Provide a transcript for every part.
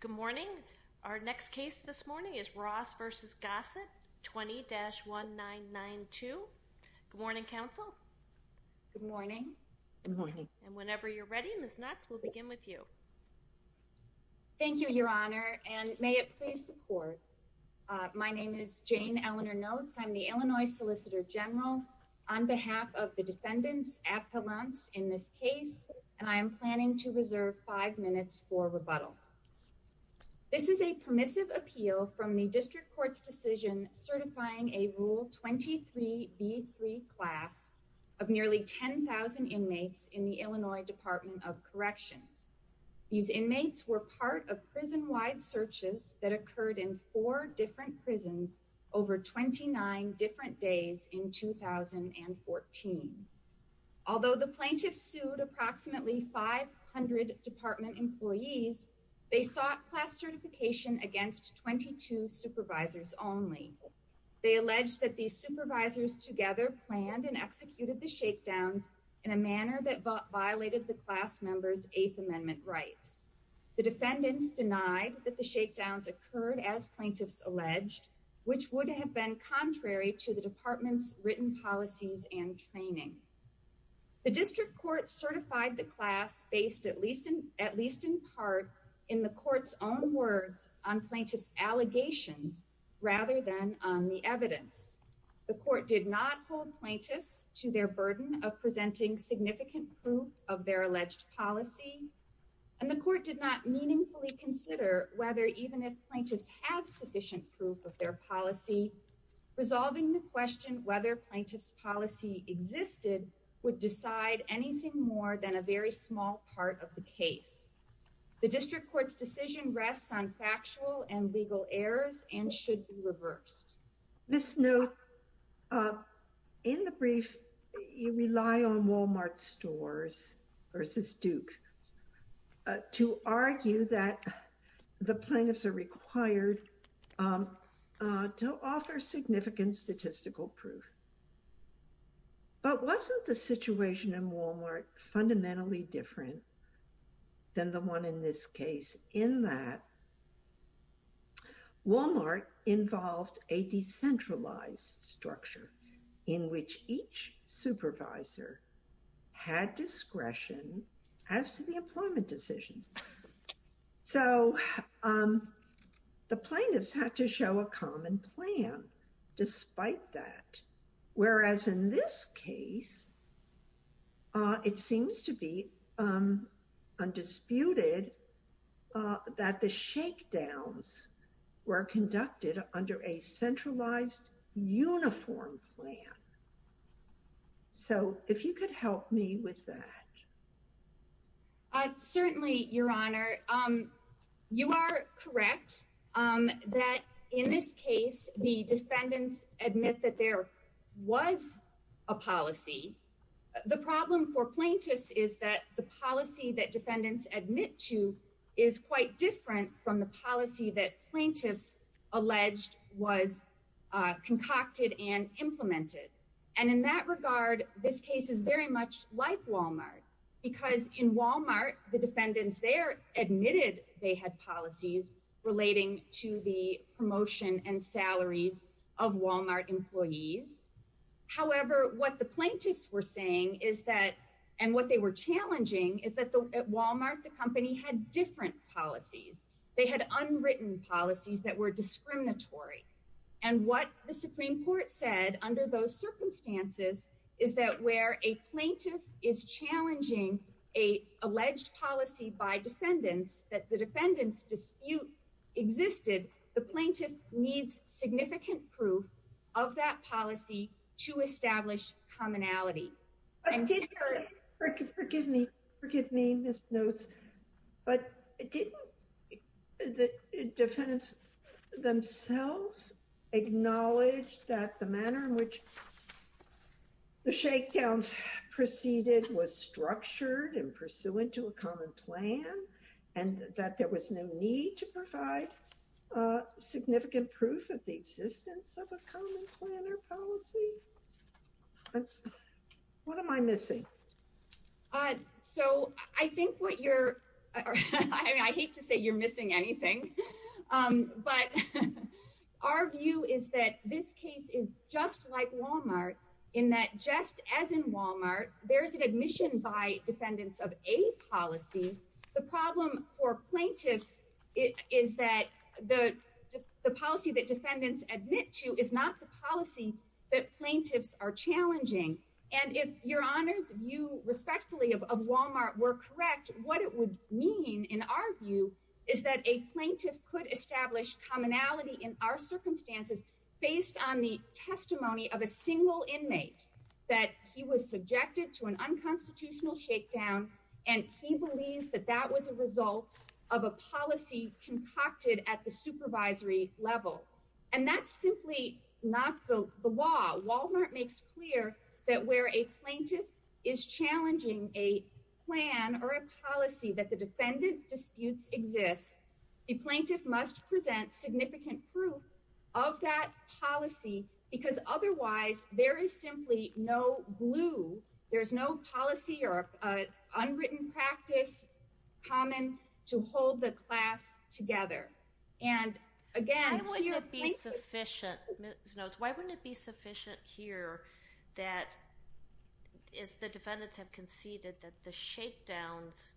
Good morning. Our next case this morning is Ross v. Gossett, 20-1992. Good morning, counsel. Good morning. Good morning. And whenever you're ready, Ms. Knotts, we'll begin with you. Thank you, Your Honor, and may it please the Court. My name is Jane Eleanor Knotts. I'm the Illinois Solicitor General. On behalf of the defendants' appellants in this case, and I am planning to reserve five minutes for rebuttal. This is a permissive appeal from the District Court's decision certifying a Rule 23b3 class of nearly 10,000 inmates in the Illinois Department of Corrections. These inmates were part of prison-wide searches that occurred in four different prisons over 29 different days in 2014. Although the plaintiffs sued approximately 500 department employees, they sought class certification against 22 supervisors only. They alleged that these supervisors together planned and executed the shakedowns in a manner that violated the class members' Eighth Amendment rights. The defendants denied that the shakedowns occurred as plaintiffs alleged, which would have been contrary to the department's written policies and training. The District Court certified the class based at least in part in the Court's own words on plaintiffs' allegations rather than on the evidence. The Court did not hold plaintiffs to their burden of presenting significant proof of their alleged policy. And the Court did not meaningfully consider whether even if plaintiffs had sufficient proof of their policy, resolving the question whether plaintiffs' policy existed would decide anything more than a very small part of the case. The District Court's decision rests on factual and legal errors and should be reversed. This note, in the brief, you rely on Walmart stores versus Duke to argue that the plaintiffs are required to offer significant statistical proof. But wasn't the situation in Walmart fundamentally different than the one in this case in that Walmart involved a decentralized structure in which each supervisor had discretion as to the employment decisions. So the plaintiffs had to show a common plan despite that. Whereas in this case, it seems to be undisputed that the shakedowns were conducted under a centralized uniform plan. So if you could help me with that. Certainly, Your Honor. You are correct that in this case, the defendants admit that there was a policy. The problem for plaintiffs is that the policy that defendants admit to is quite different from the policy that plaintiffs alleged was concocted and implemented. And in that regard, this case is very much like Walmart because in Walmart, the defendants there admitted they had policies relating to the promotion and salaries of Walmart employees. However, what the plaintiffs were saying is that and what they were challenging is that at Walmart, the company had different policies. They had unwritten policies that were discriminatory. And what the Supreme Court said under those circumstances is that where a plaintiff is challenging a alleged policy by defendants that the defendants dispute existed, the plaintiff needs significant proof of that policy to establish commonality. Forgive me. Forgive me, Ms. Notes. But didn't the defendants themselves acknowledge that the manner in which the shakedowns proceeded was structured and pursuant to a common plan and that there was no need to provide significant proof of the existence of a common plan or policy? What am I missing? So I think what you're, I hate to say you're missing anything, but our view is that this case is just like Walmart in that just as in Walmart, there's an admission by defendants of a policy. The problem for plaintiffs is that the policy that defendants admit to is not the policy that plaintiffs are challenging. And if Your Honor's view respectfully of Walmart were correct, what it would mean in our view is that a plaintiff could establish commonality in our circumstances based on the testimony of a single inmate that he was subjected to an unconstitutional shakedown. And he believes that that was a result of a policy concocted at the supervisory level. And that's simply not the law. Walmart makes clear that where a plaintiff is challenging a plan or a policy that the defendant disputes exists, a plaintiff must present significant proof of that policy because otherwise there is simply no glue. There's no policy or unwritten practice common to hold the class together. And again, when you're- Why wouldn't it be sufficient, Ms. Knowles, why wouldn't it be sufficient here that if the defendants have conceded that the shakedowns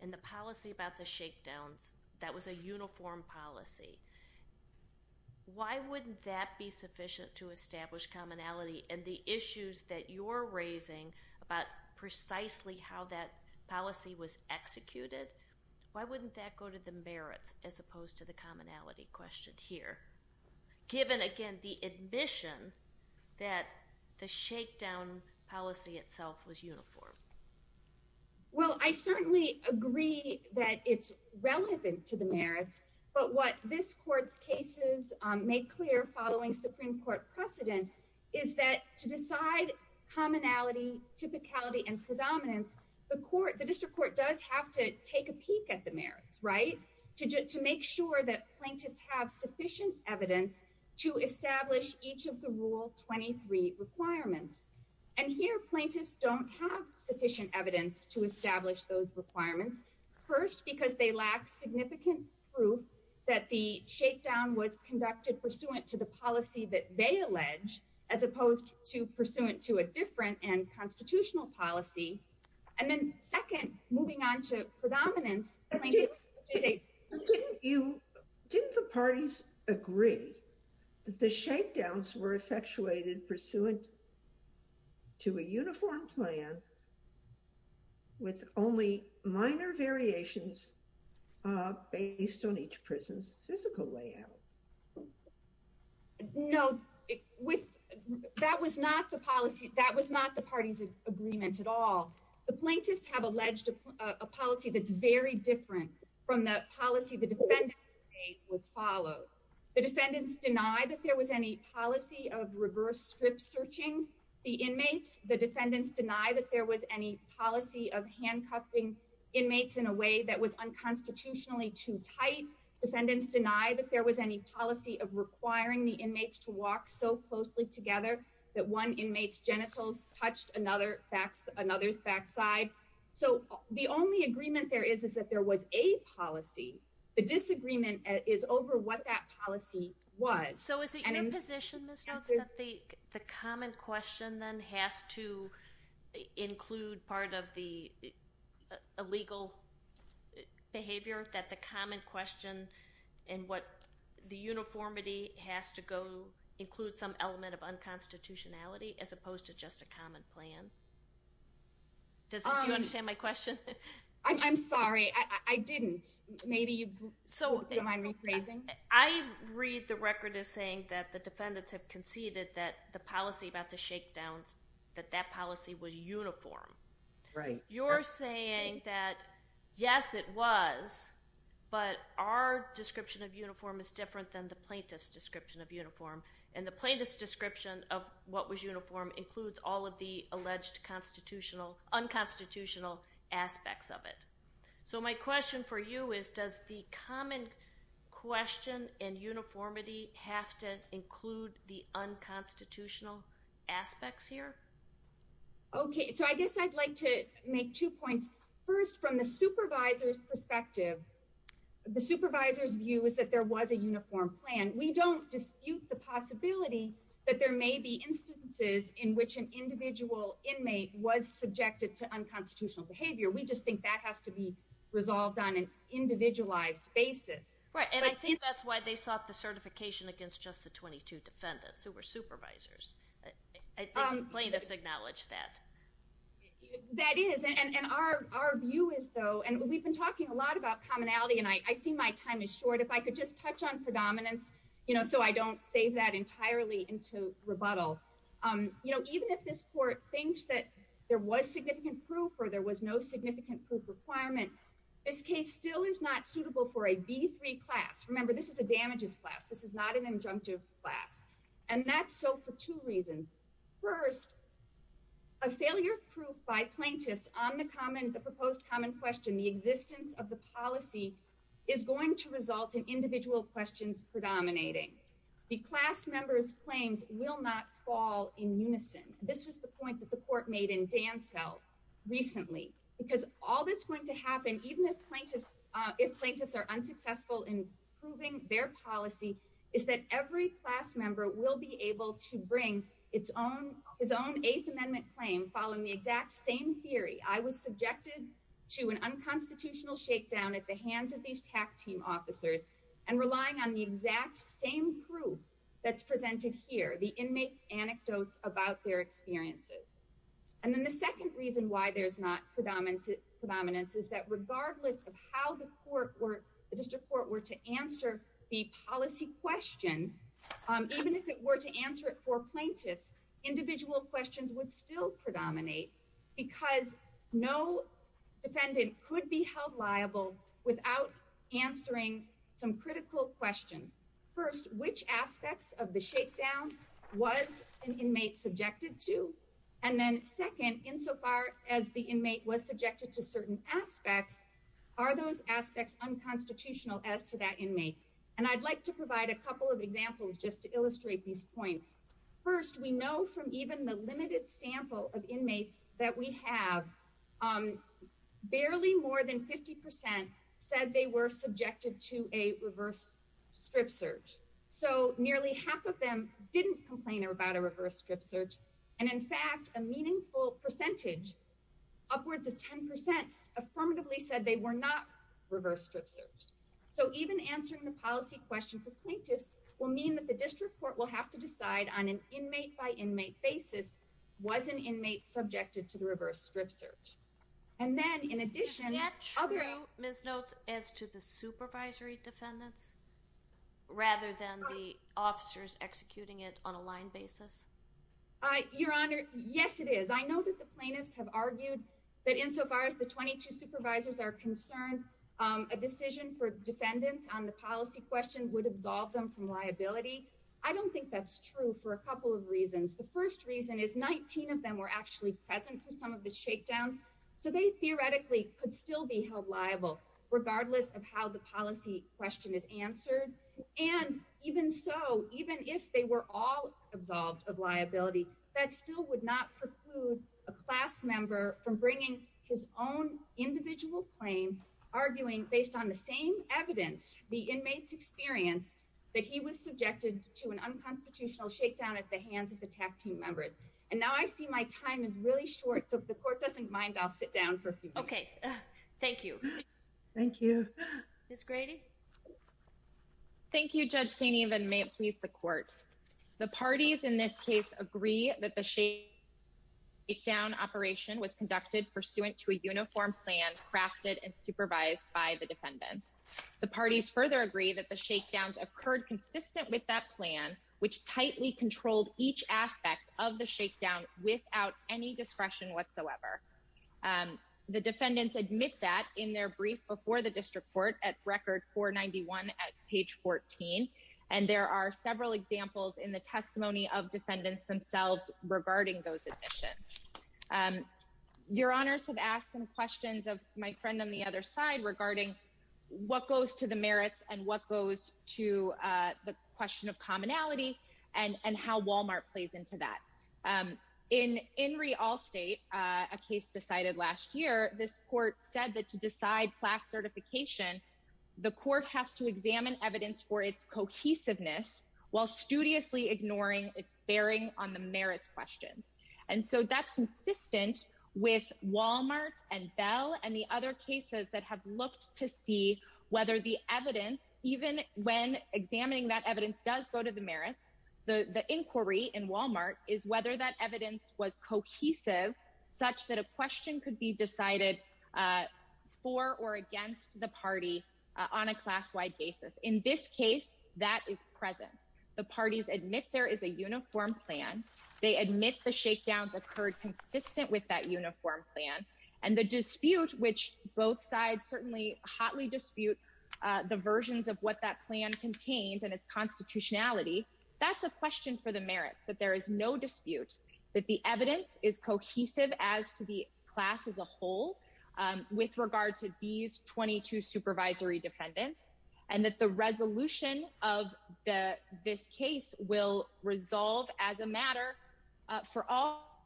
and the policy about the shakedowns, that was a uniform policy, why wouldn't that be sufficient to establish commonality? And the issues that you're raising about precisely how that policy was executed, why wouldn't that go to the merits as opposed to the commonality question here, given again the admission that the shakedown policy itself was uniform? Well, I certainly agree that it's relevant to the merits. But what this court's cases make clear following Supreme Court precedent is that to decide commonality, typicality, and predominance, the district court does have to take a peek at the merits, right? To make sure that plaintiffs have sufficient evidence to establish each of the Rule 23 requirements. And here, plaintiffs don't have sufficient evidence to establish those requirements. First, because they lack significant proof that the shakedown was conducted pursuant to the policy that they allege, as opposed to pursuant to a different and constitutional policy. And then second, moving on to predominance, plaintiffs... Didn't the parties agree that the shakedowns were effectuated pursuant to a uniform plan with only minor variations based on each prison's physical layout? No, that was not the party's agreement at all. The plaintiffs have alleged a policy that's very different from the policy the defendants made was followed. The defendants deny that there was any policy of reverse strip searching the inmates. The defendants deny that there was any policy of handcuffing inmates in a way that was unconstitutionally too tight. The defendants deny that there was any policy of requiring the inmates to walk so closely together that one inmate's genitals touched another's backside. So the only agreement there is is that there was a policy. The disagreement is over what that policy was. So is it your position, Ms. Jones, that the common question then has to include part of the illegal behavior? That the common question and what the uniformity has to go include some element of unconstitutionality as opposed to just a common plan? Do you understand my question? I'm sorry, I didn't. Do you mind rephrasing? I read the record as saying that the defendants have conceded that the policy about the shakedowns, that that policy was uniform. Right. You're saying that yes, it was, but our description of uniform is different than the plaintiff's description of uniform. And the plaintiff's description of what was uniform includes all of the alleged unconstitutional aspects of it. So my question for you is, does the common question and uniformity have to include the unconstitutional aspects here? Okay, so I guess I'd like to make two points. First, from the supervisor's perspective, the supervisor's view is that there was a uniform plan. We don't dispute the possibility that there may be instances in which an individual inmate was subjected to unconstitutional behavior. We just think that has to be resolved on an individualized basis. Right, and I think that's why they sought the certification against just the 22 defendants who were supervisors. The plaintiffs acknowledged that. That is, and our view is, though, and we've been talking a lot about commonality, and I see my time is short. If I could just touch on predominance so I don't save that entirely into rebuttal. You know, even if this court thinks that there was significant proof or there was no significant proof requirement, this case still is not suitable for a B3 class. Remember, this is a damages class. This is not an injunctive class. And that's so for two reasons. First, a failure of proof by plaintiffs on the proposed common question, the existence of the policy, is going to result in individual questions predominating. The class members' claims will not fall in unison. This was the point that the court made in Dansell recently. Because all that's going to happen, even if plaintiffs are unsuccessful in proving their policy, is that every class member will be able to bring his own Eighth Amendment claim following the exact same theory. I was subjected to an unconstitutional shakedown at the hands of these TAC team officers, and relying on the exact same proof that's presented here, the inmate anecdotes about their experiences. And then the second reason why there's not predominance is that regardless of how the court were, the district court were to answer the policy question, even if it were to answer it for plaintiffs, individual questions would still predominate because no defendant could be held liable without answering some critical questions. First, which aspects of the shakedown was an inmate subjected to? And then second, insofar as the inmate was subjected to certain aspects, are those aspects unconstitutional as to that inmate? And I'd like to provide a couple of examples just to illustrate these points. First, we know from even the limited sample of inmates that we have, barely more than 50% said they were subjected to a reverse strip search. So nearly half of them didn't complain about a reverse strip search. And in fact, a meaningful percentage, upwards of 10%, affirmatively said they were not reverse strip searched. So even answering the policy question for plaintiffs will mean that the district court will have to decide on an inmate-by-inmate basis, was an inmate subjected to the reverse strip search? And then, in addition, other- Is that true, Ms. Notes, as to the supervisory defendants, rather than the officers executing it on a line basis? Your Honor, yes it is. I know that the plaintiffs have argued that insofar as the 22 supervisors are concerned, a decision for defendants on the policy question would absolve them from liability. I don't think that's true for a couple of reasons. The first reason is 19 of them were actually present for some of the shakedowns, so they theoretically could still be held liable, regardless of how the policy question is answered. And even so, even if they were all absolved of liability, that still would not preclude a class member from bringing his own individual claim, arguing based on the same evidence, the inmate's experience, that he was subjected to an unconstitutional shakedown at the hands of the TAC team members. And now I see my time is really short, so if the court doesn't mind, I'll sit down for a few minutes. Okay, thank you. Thank you. Ms. Grady? Thank you, Judge Saini, and may it please the court. The parties in this case agree that the shakedown operation was conducted pursuant to a uniform plan crafted and supervised by the defendants. The parties further agree that the shakedowns occurred consistent with that plan, which tightly controlled each aspect of the shakedown without any discretion whatsoever. The defendants admit that in their brief before the district court at Record 491 at page 14, and there are several examples in the testimony of defendants themselves regarding those admissions. Your Honors have asked some questions of my friend on the other side regarding what goes to the merits and what goes to the question of commonality and how Walmart plays into that. In Inree Allstate, a case decided last year, this court said that to decide class certification, the court has to examine evidence for its cohesiveness while studiously ignoring its bearing on the merits questions. And so that's consistent with Walmart and Bell and the other cases that have looked to see whether the evidence, even when examining that evidence does go to the merits. The inquiry in Walmart is whether that evidence was cohesive such that a question could be decided for or against the party on a class wide basis. In this case, that is present. The parties admit there is a uniform plan. They admit the shakedowns occurred consistent with that uniform plan and the dispute, which both sides certainly hotly dispute the versions of what that plan contains and its constitutionality. That's a question for the merits that there is no dispute that the evidence is cohesive as to the class as a whole. With regard to these 22 supervisory defendants and that the resolution of this case will resolve as a matter for all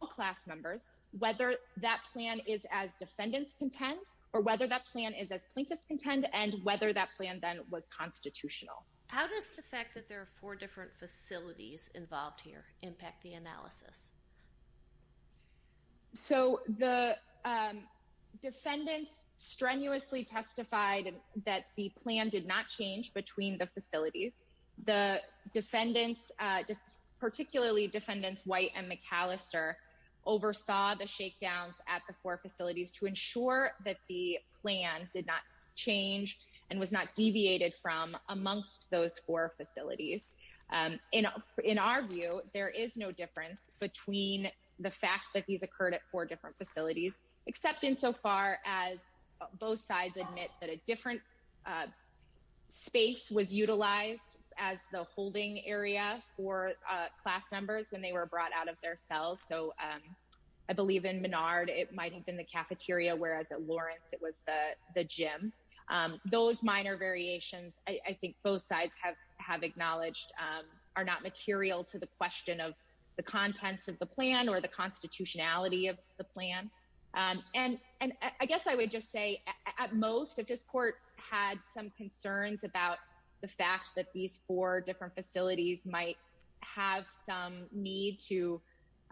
class members, whether that plan is as defendants contend or whether that plan is as plaintiffs contend and whether that plan then was constitutional. How does the fact that there are four different facilities involved here impact the analysis? So the defendants strenuously testified that the plan did not change between the facilities. The defendants, particularly defendants White and McAllister, oversaw the shakedowns at the four facilities to ensure that the plan did not change and was not deviated from amongst those four facilities. In our view, there is no difference between the fact that these occurred at four different facilities, except insofar as both sides admit that a different space was utilized as the holding area for class members when they were brought out of their cells. So I believe in Menard, it might have been the cafeteria, whereas at Lawrence it was the gym. Those minor variations, I think both sides have acknowledged, are not material to the question of the contents of the plan or the constitutionality of the plan. And I guess I would just say at most, if this court had some concerns about the fact that these four different facilities might have some need to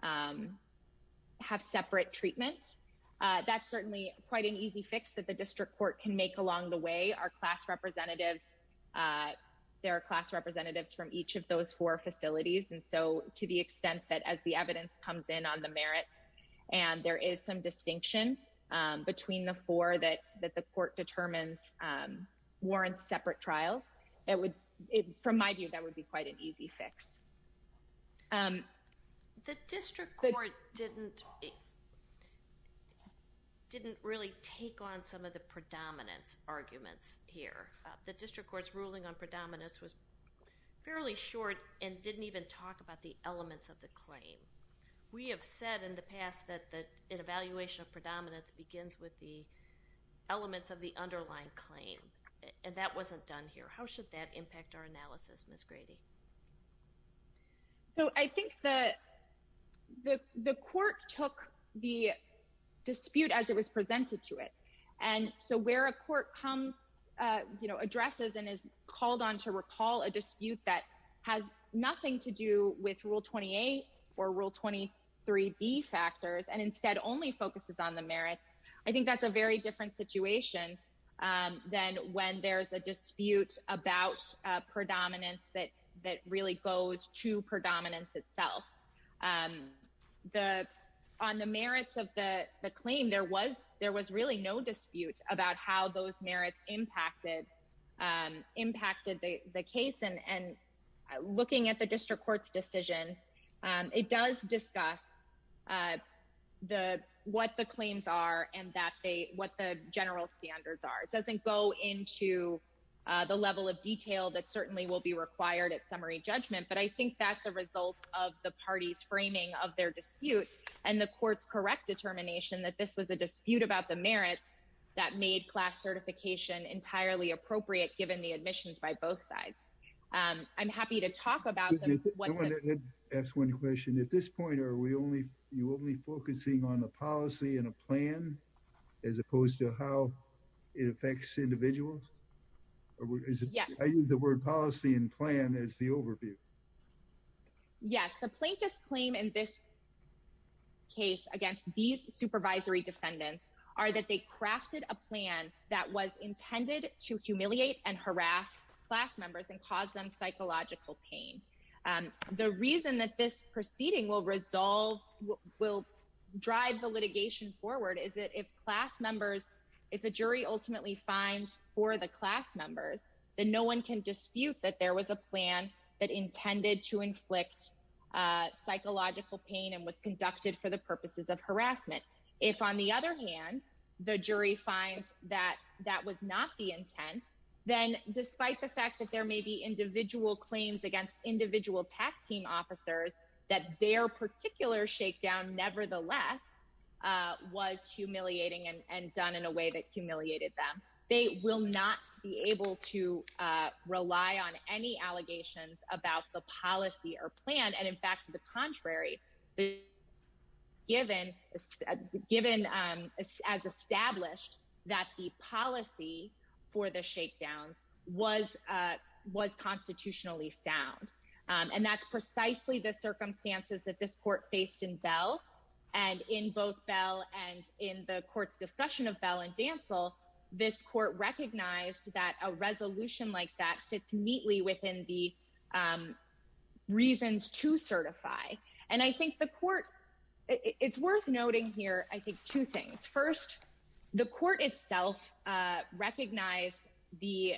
have separate treatment, that's certainly quite an easy fix that the district court can make along the way. Our class representatives, there are class representatives from each of those four facilities. And so to the extent that as the evidence comes in on the merits and there is some distinction between the four that the court determines warrants separate trials, from my view, that would be quite an easy fix. The district court didn't really take on some of the predominance arguments here. The district court's ruling on predominance was fairly short and didn't even talk about the elements of the claim. We have said in the past that an evaluation of predominance begins with the elements of the underlying claim, and that wasn't done here. How should that impact our analysis, Ms. Grady? So I think the court took the dispute as it was presented to it. And so where a court comes, you know, addresses and is called on to recall a dispute that has nothing to do with Rule 28 or Rule 23B factors and instead only focuses on the merits, I think that's a very different situation than when there's a dispute about predominance that really goes to predominance itself. On the merits of the claim, there was really no dispute about how those merits impacted the case. Looking at the district court's decision, it does discuss what the claims are and what the general standards are. It doesn't go into the level of detail that certainly will be required at summary judgment, but I think that's a result of the party's framing of their dispute and the court's correct determination that this was a dispute about the merits that made class certification entirely appropriate given the admissions by both sides. I'm happy to talk about them. I want to ask one question. At this point, are you only focusing on the policy and a plan as opposed to how it affects individuals? I use the word policy and plan as the overview. Yes, the plaintiff's claim in this case against these supervisory defendants are that they crafted a plan that was intended to humiliate and harass class members and cause them psychological pain. The reason that this proceeding will drive the litigation forward is that if a jury ultimately finds for the class members, then no one can dispute that there was a plan that intended to inflict psychological pain and was conducted for the purposes of harassment. If, on the other hand, the jury finds that that was not the intent, then despite the fact that there may be individual claims against individual TAC team officers, that their particular shakedown nevertheless was humiliating and done in a way that humiliated them. They will not be able to rely on any allegations about the policy or plan. In fact, to the contrary, given as established that the policy for the shakedowns was constitutionally sound, and that's precisely the circumstances that this court faced in Bell. And in both Bell and in the court's discussion of Bell and Dansell, this court recognized that a resolution like that fits neatly within the reasons to certify. And I think the court, it's worth noting here, I think two things. First, the court itself recognized the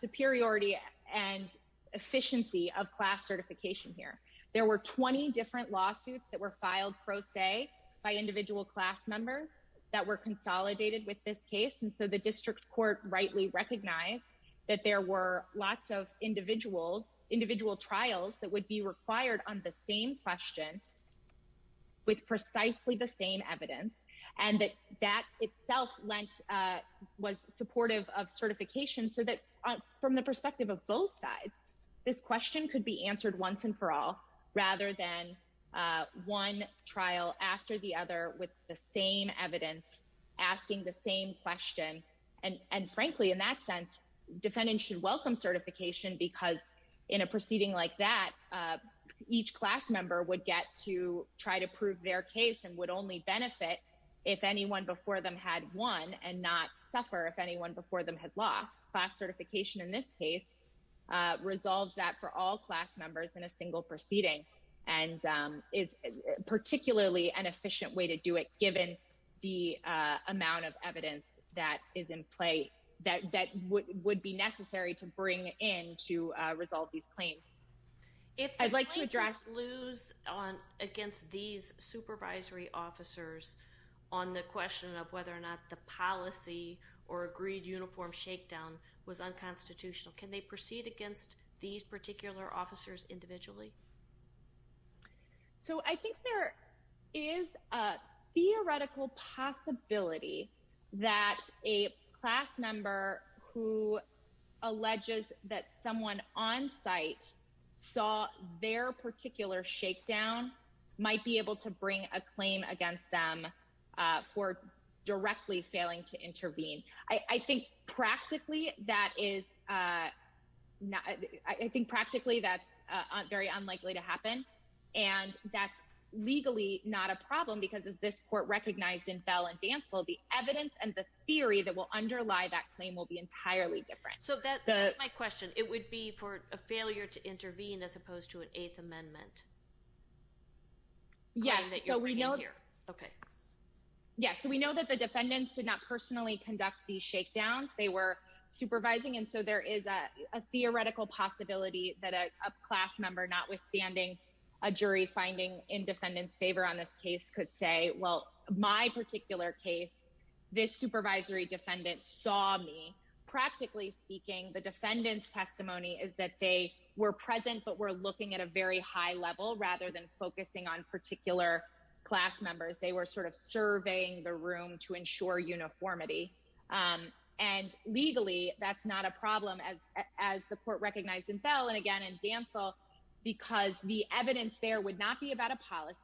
superiority and efficiency of class certification here. There were 20 different lawsuits that were filed pro se by individual class members that were consolidated with this case. And so the district court rightly recognized that there were lots of individuals, individual trials that would be required on the same question with precisely the same evidence. And that that itself was supportive of certification so that from the perspective of both sides, this question could be answered once and for all, rather than one trial after the other with the same evidence, asking the same question. And frankly, in that sense, defendants should welcome certification because in a proceeding like that, each class member would get to try to prove their case and would only benefit if anyone before them had won and not suffer if anyone before them had lost. Class certification in this case resolves that for all class members in a single proceeding and is particularly an efficient way to do it given the amount of evidence that is in play that would be necessary to bring in to resolve these claims. If the plaintiffs lose against these supervisory officers on the question of whether or not the policy or agreed uniform shakedown was unconstitutional, can they proceed against these particular officers individually? So I think there is a theoretical possibility that a class member who alleges that someone on site saw their particular shakedown might be able to bring a claim against them for directly failing to intervene. I think practically that's very unlikely to happen, and that's legally not a problem because as this court recognized in Bell and Dansel, the evidence and the theory that will underlie that claim will be entirely different. So that's my question. It would be for a failure to intervene as opposed to an Eighth Amendment claim that you're bringing here? Yes, we know that the defendants did not personally conduct these shakedowns. They were supervising, and so there is a theoretical possibility that a class member, notwithstanding a jury finding in defendants favor on this case, could say, well, my particular case, this supervisory defendant saw me. So I think there is a theoretical possibility that a class member, notwithstanding a jury finding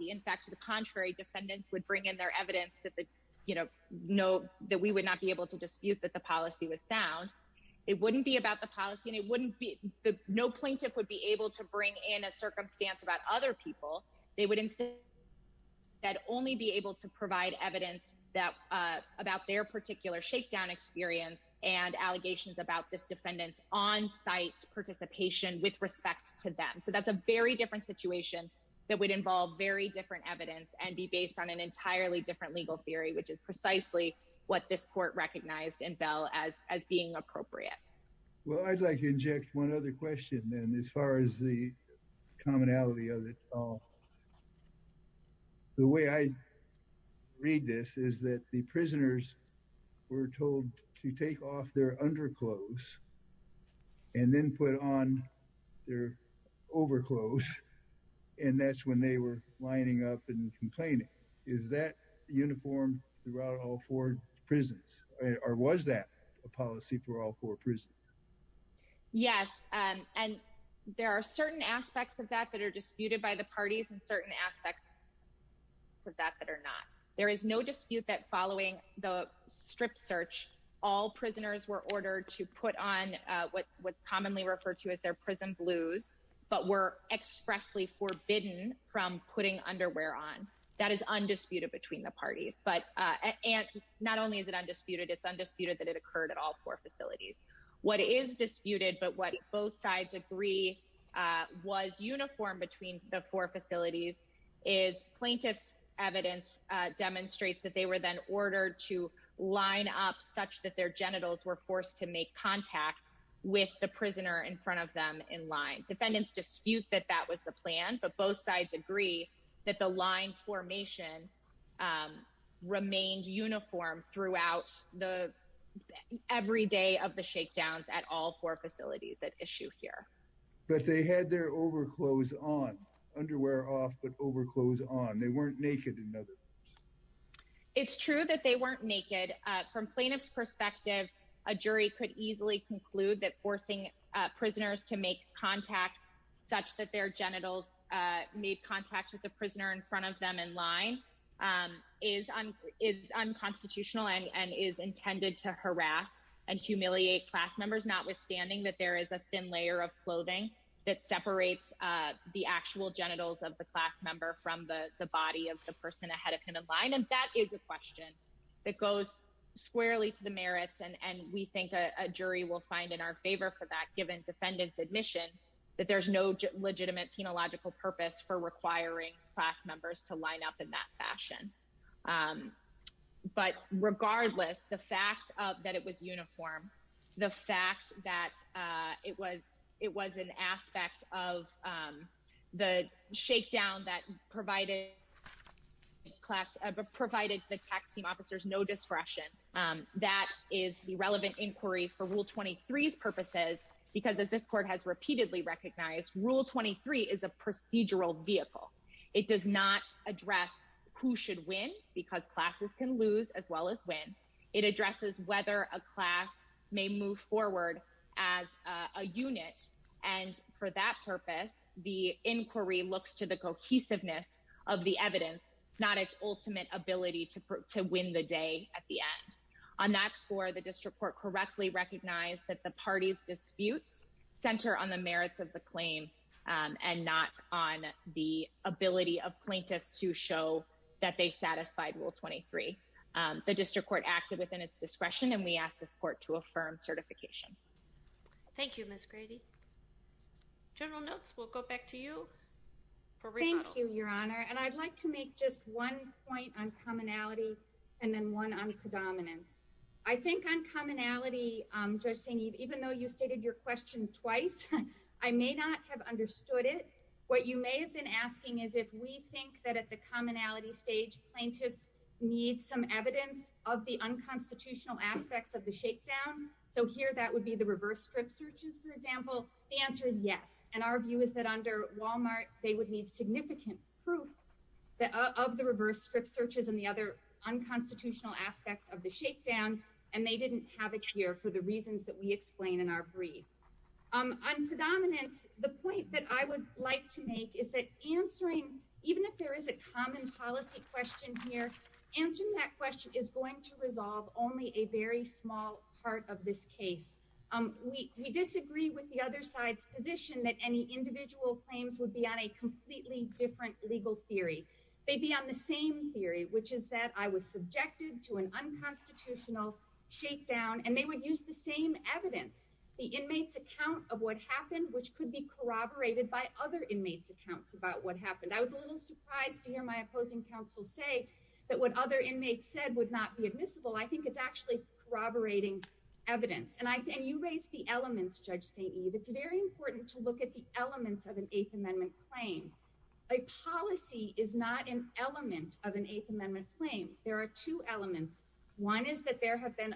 in defendants favor on this case, could say, well, my particular case, this supervisory defendant saw me. Well, I'd like to inject one other question, then, as far as the commonality of it all. The way I read this is that the prisoners were told to take off their underclothes and then put on their overclothes, and that's when they were lining up and complaining. Is that uniform throughout all four prisons, or was that a policy for all four prisons? Yes, and there are certain aspects of that that are disputed by the parties and certain aspects of that that are not. There is no dispute that following the strip search, all prisoners were ordered to put on what's commonly referred to as their prison blues, but were expressly forbidden from putting underwear on. That is undisputed between the parties, but not only is it undisputed, it's undisputed that it occurred at all four facilities. What is disputed, but what both sides agree was uniform between the four facilities is plaintiff's evidence demonstrates that they were then ordered to line up such that their genitals were forced to make contact with the prisoner in front of them in line. Defendants dispute that that was the plan, but both sides agree that the line formation remained uniform throughout the every day of the shakedowns at all four facilities that issue here. But they had their overclothes on, underwear off, but overclothes on. They weren't naked in other rooms. It's true that they weren't naked from plaintiff's perspective. A jury could easily conclude that forcing prisoners to make contact such that their genitals made contact with the prisoner in front of them in line. Is unconstitutional and is intended to harass and humiliate class members, notwithstanding that there is a thin layer of clothing that separates the actual genitals of the class member from the body of the person ahead of him in line. That is a question that goes squarely to the merits and we think a jury will find in our favor for that given defendant's admission that there's no legitimate penological purpose for requiring class members to line up in that fashion. But regardless, the fact that it was uniform, the fact that it was an aspect of the shakedown that provided the tech team officers no discretion, that is the relevant inquiry for Rule 23's purposes. Because as this court has repeatedly recognized, Rule 23 is a procedural vehicle. It does not address who should win because classes can lose as well as win. It addresses whether a class may move forward as a unit and for that purpose, the inquiry looks to the cohesiveness of the evidence, not its ultimate ability to win the day at the end. On that score, the district court correctly recognized that the party's disputes center on the merits of the claim and not on the ability of plaintiffs to show that they satisfied Rule 23. The district court acted within its discretion and we ask this court to affirm certification. Thank you, Ms. Grady. General Notes, we'll go back to you for rebuttal. Thank you, Your Honor, and I'd like to make just one point on commonality and then one on predominance. I think on commonality, Judge St-Yves, even though you stated your question twice, I may not have understood it. What you may have been asking is if we think that at the commonality stage, plaintiffs need some evidence of the unconstitutional aspects of the shakedown. So here that would be the reverse strip searches, for example. The answer is yes. And our view is that under Walmart, they would need significant proof of the reverse strip searches and the other unconstitutional aspects of the shakedown. And they didn't have it here for the reasons that we explain in our brief. On predominance, the point that I would like to make is that answering, even if there is a common policy question here, answering that question is going to resolve only a very small part of this case. We disagree with the other side's position that any individual claims would be on a completely different legal theory. They'd be on the same theory, which is that I was subjected to an unconstitutional shakedown and they would use the same evidence. The inmates' account of what happened, which could be corroborated by other inmates' accounts about what happened. I was a little surprised to hear my opposing counsel say that what other inmates said would not be admissible. I think it's actually corroborating evidence. And you raised the elements, Judge St. Eve. It's very important to look at the elements of an Eighth Amendment claim. A policy is not an element of an Eighth Amendment claim. There are two elements. One is that there have been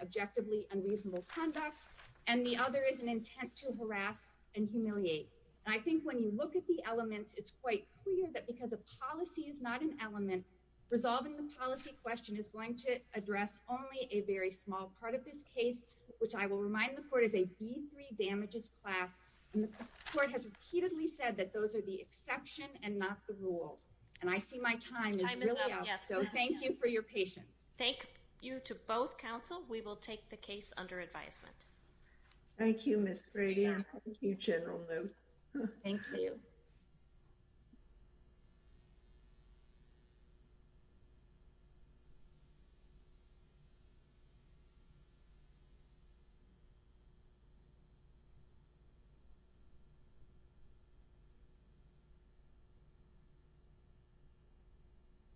objectively unreasonable conduct. And the other is an intent to harass and humiliate. And I think when you look at the elements, it's quite clear that because a policy is not an element, resolving the policy question is going to address only a very small part of this case. Which I will remind the court is a B3 damages class. And the court has repeatedly said that those are the exception and not the rule. And I see my time is really up. So thank you for your patience. Thank you to both counsel. We will take the case under advisement. Thank you, Ms. Brady. Thank you, General Luce. Thank you.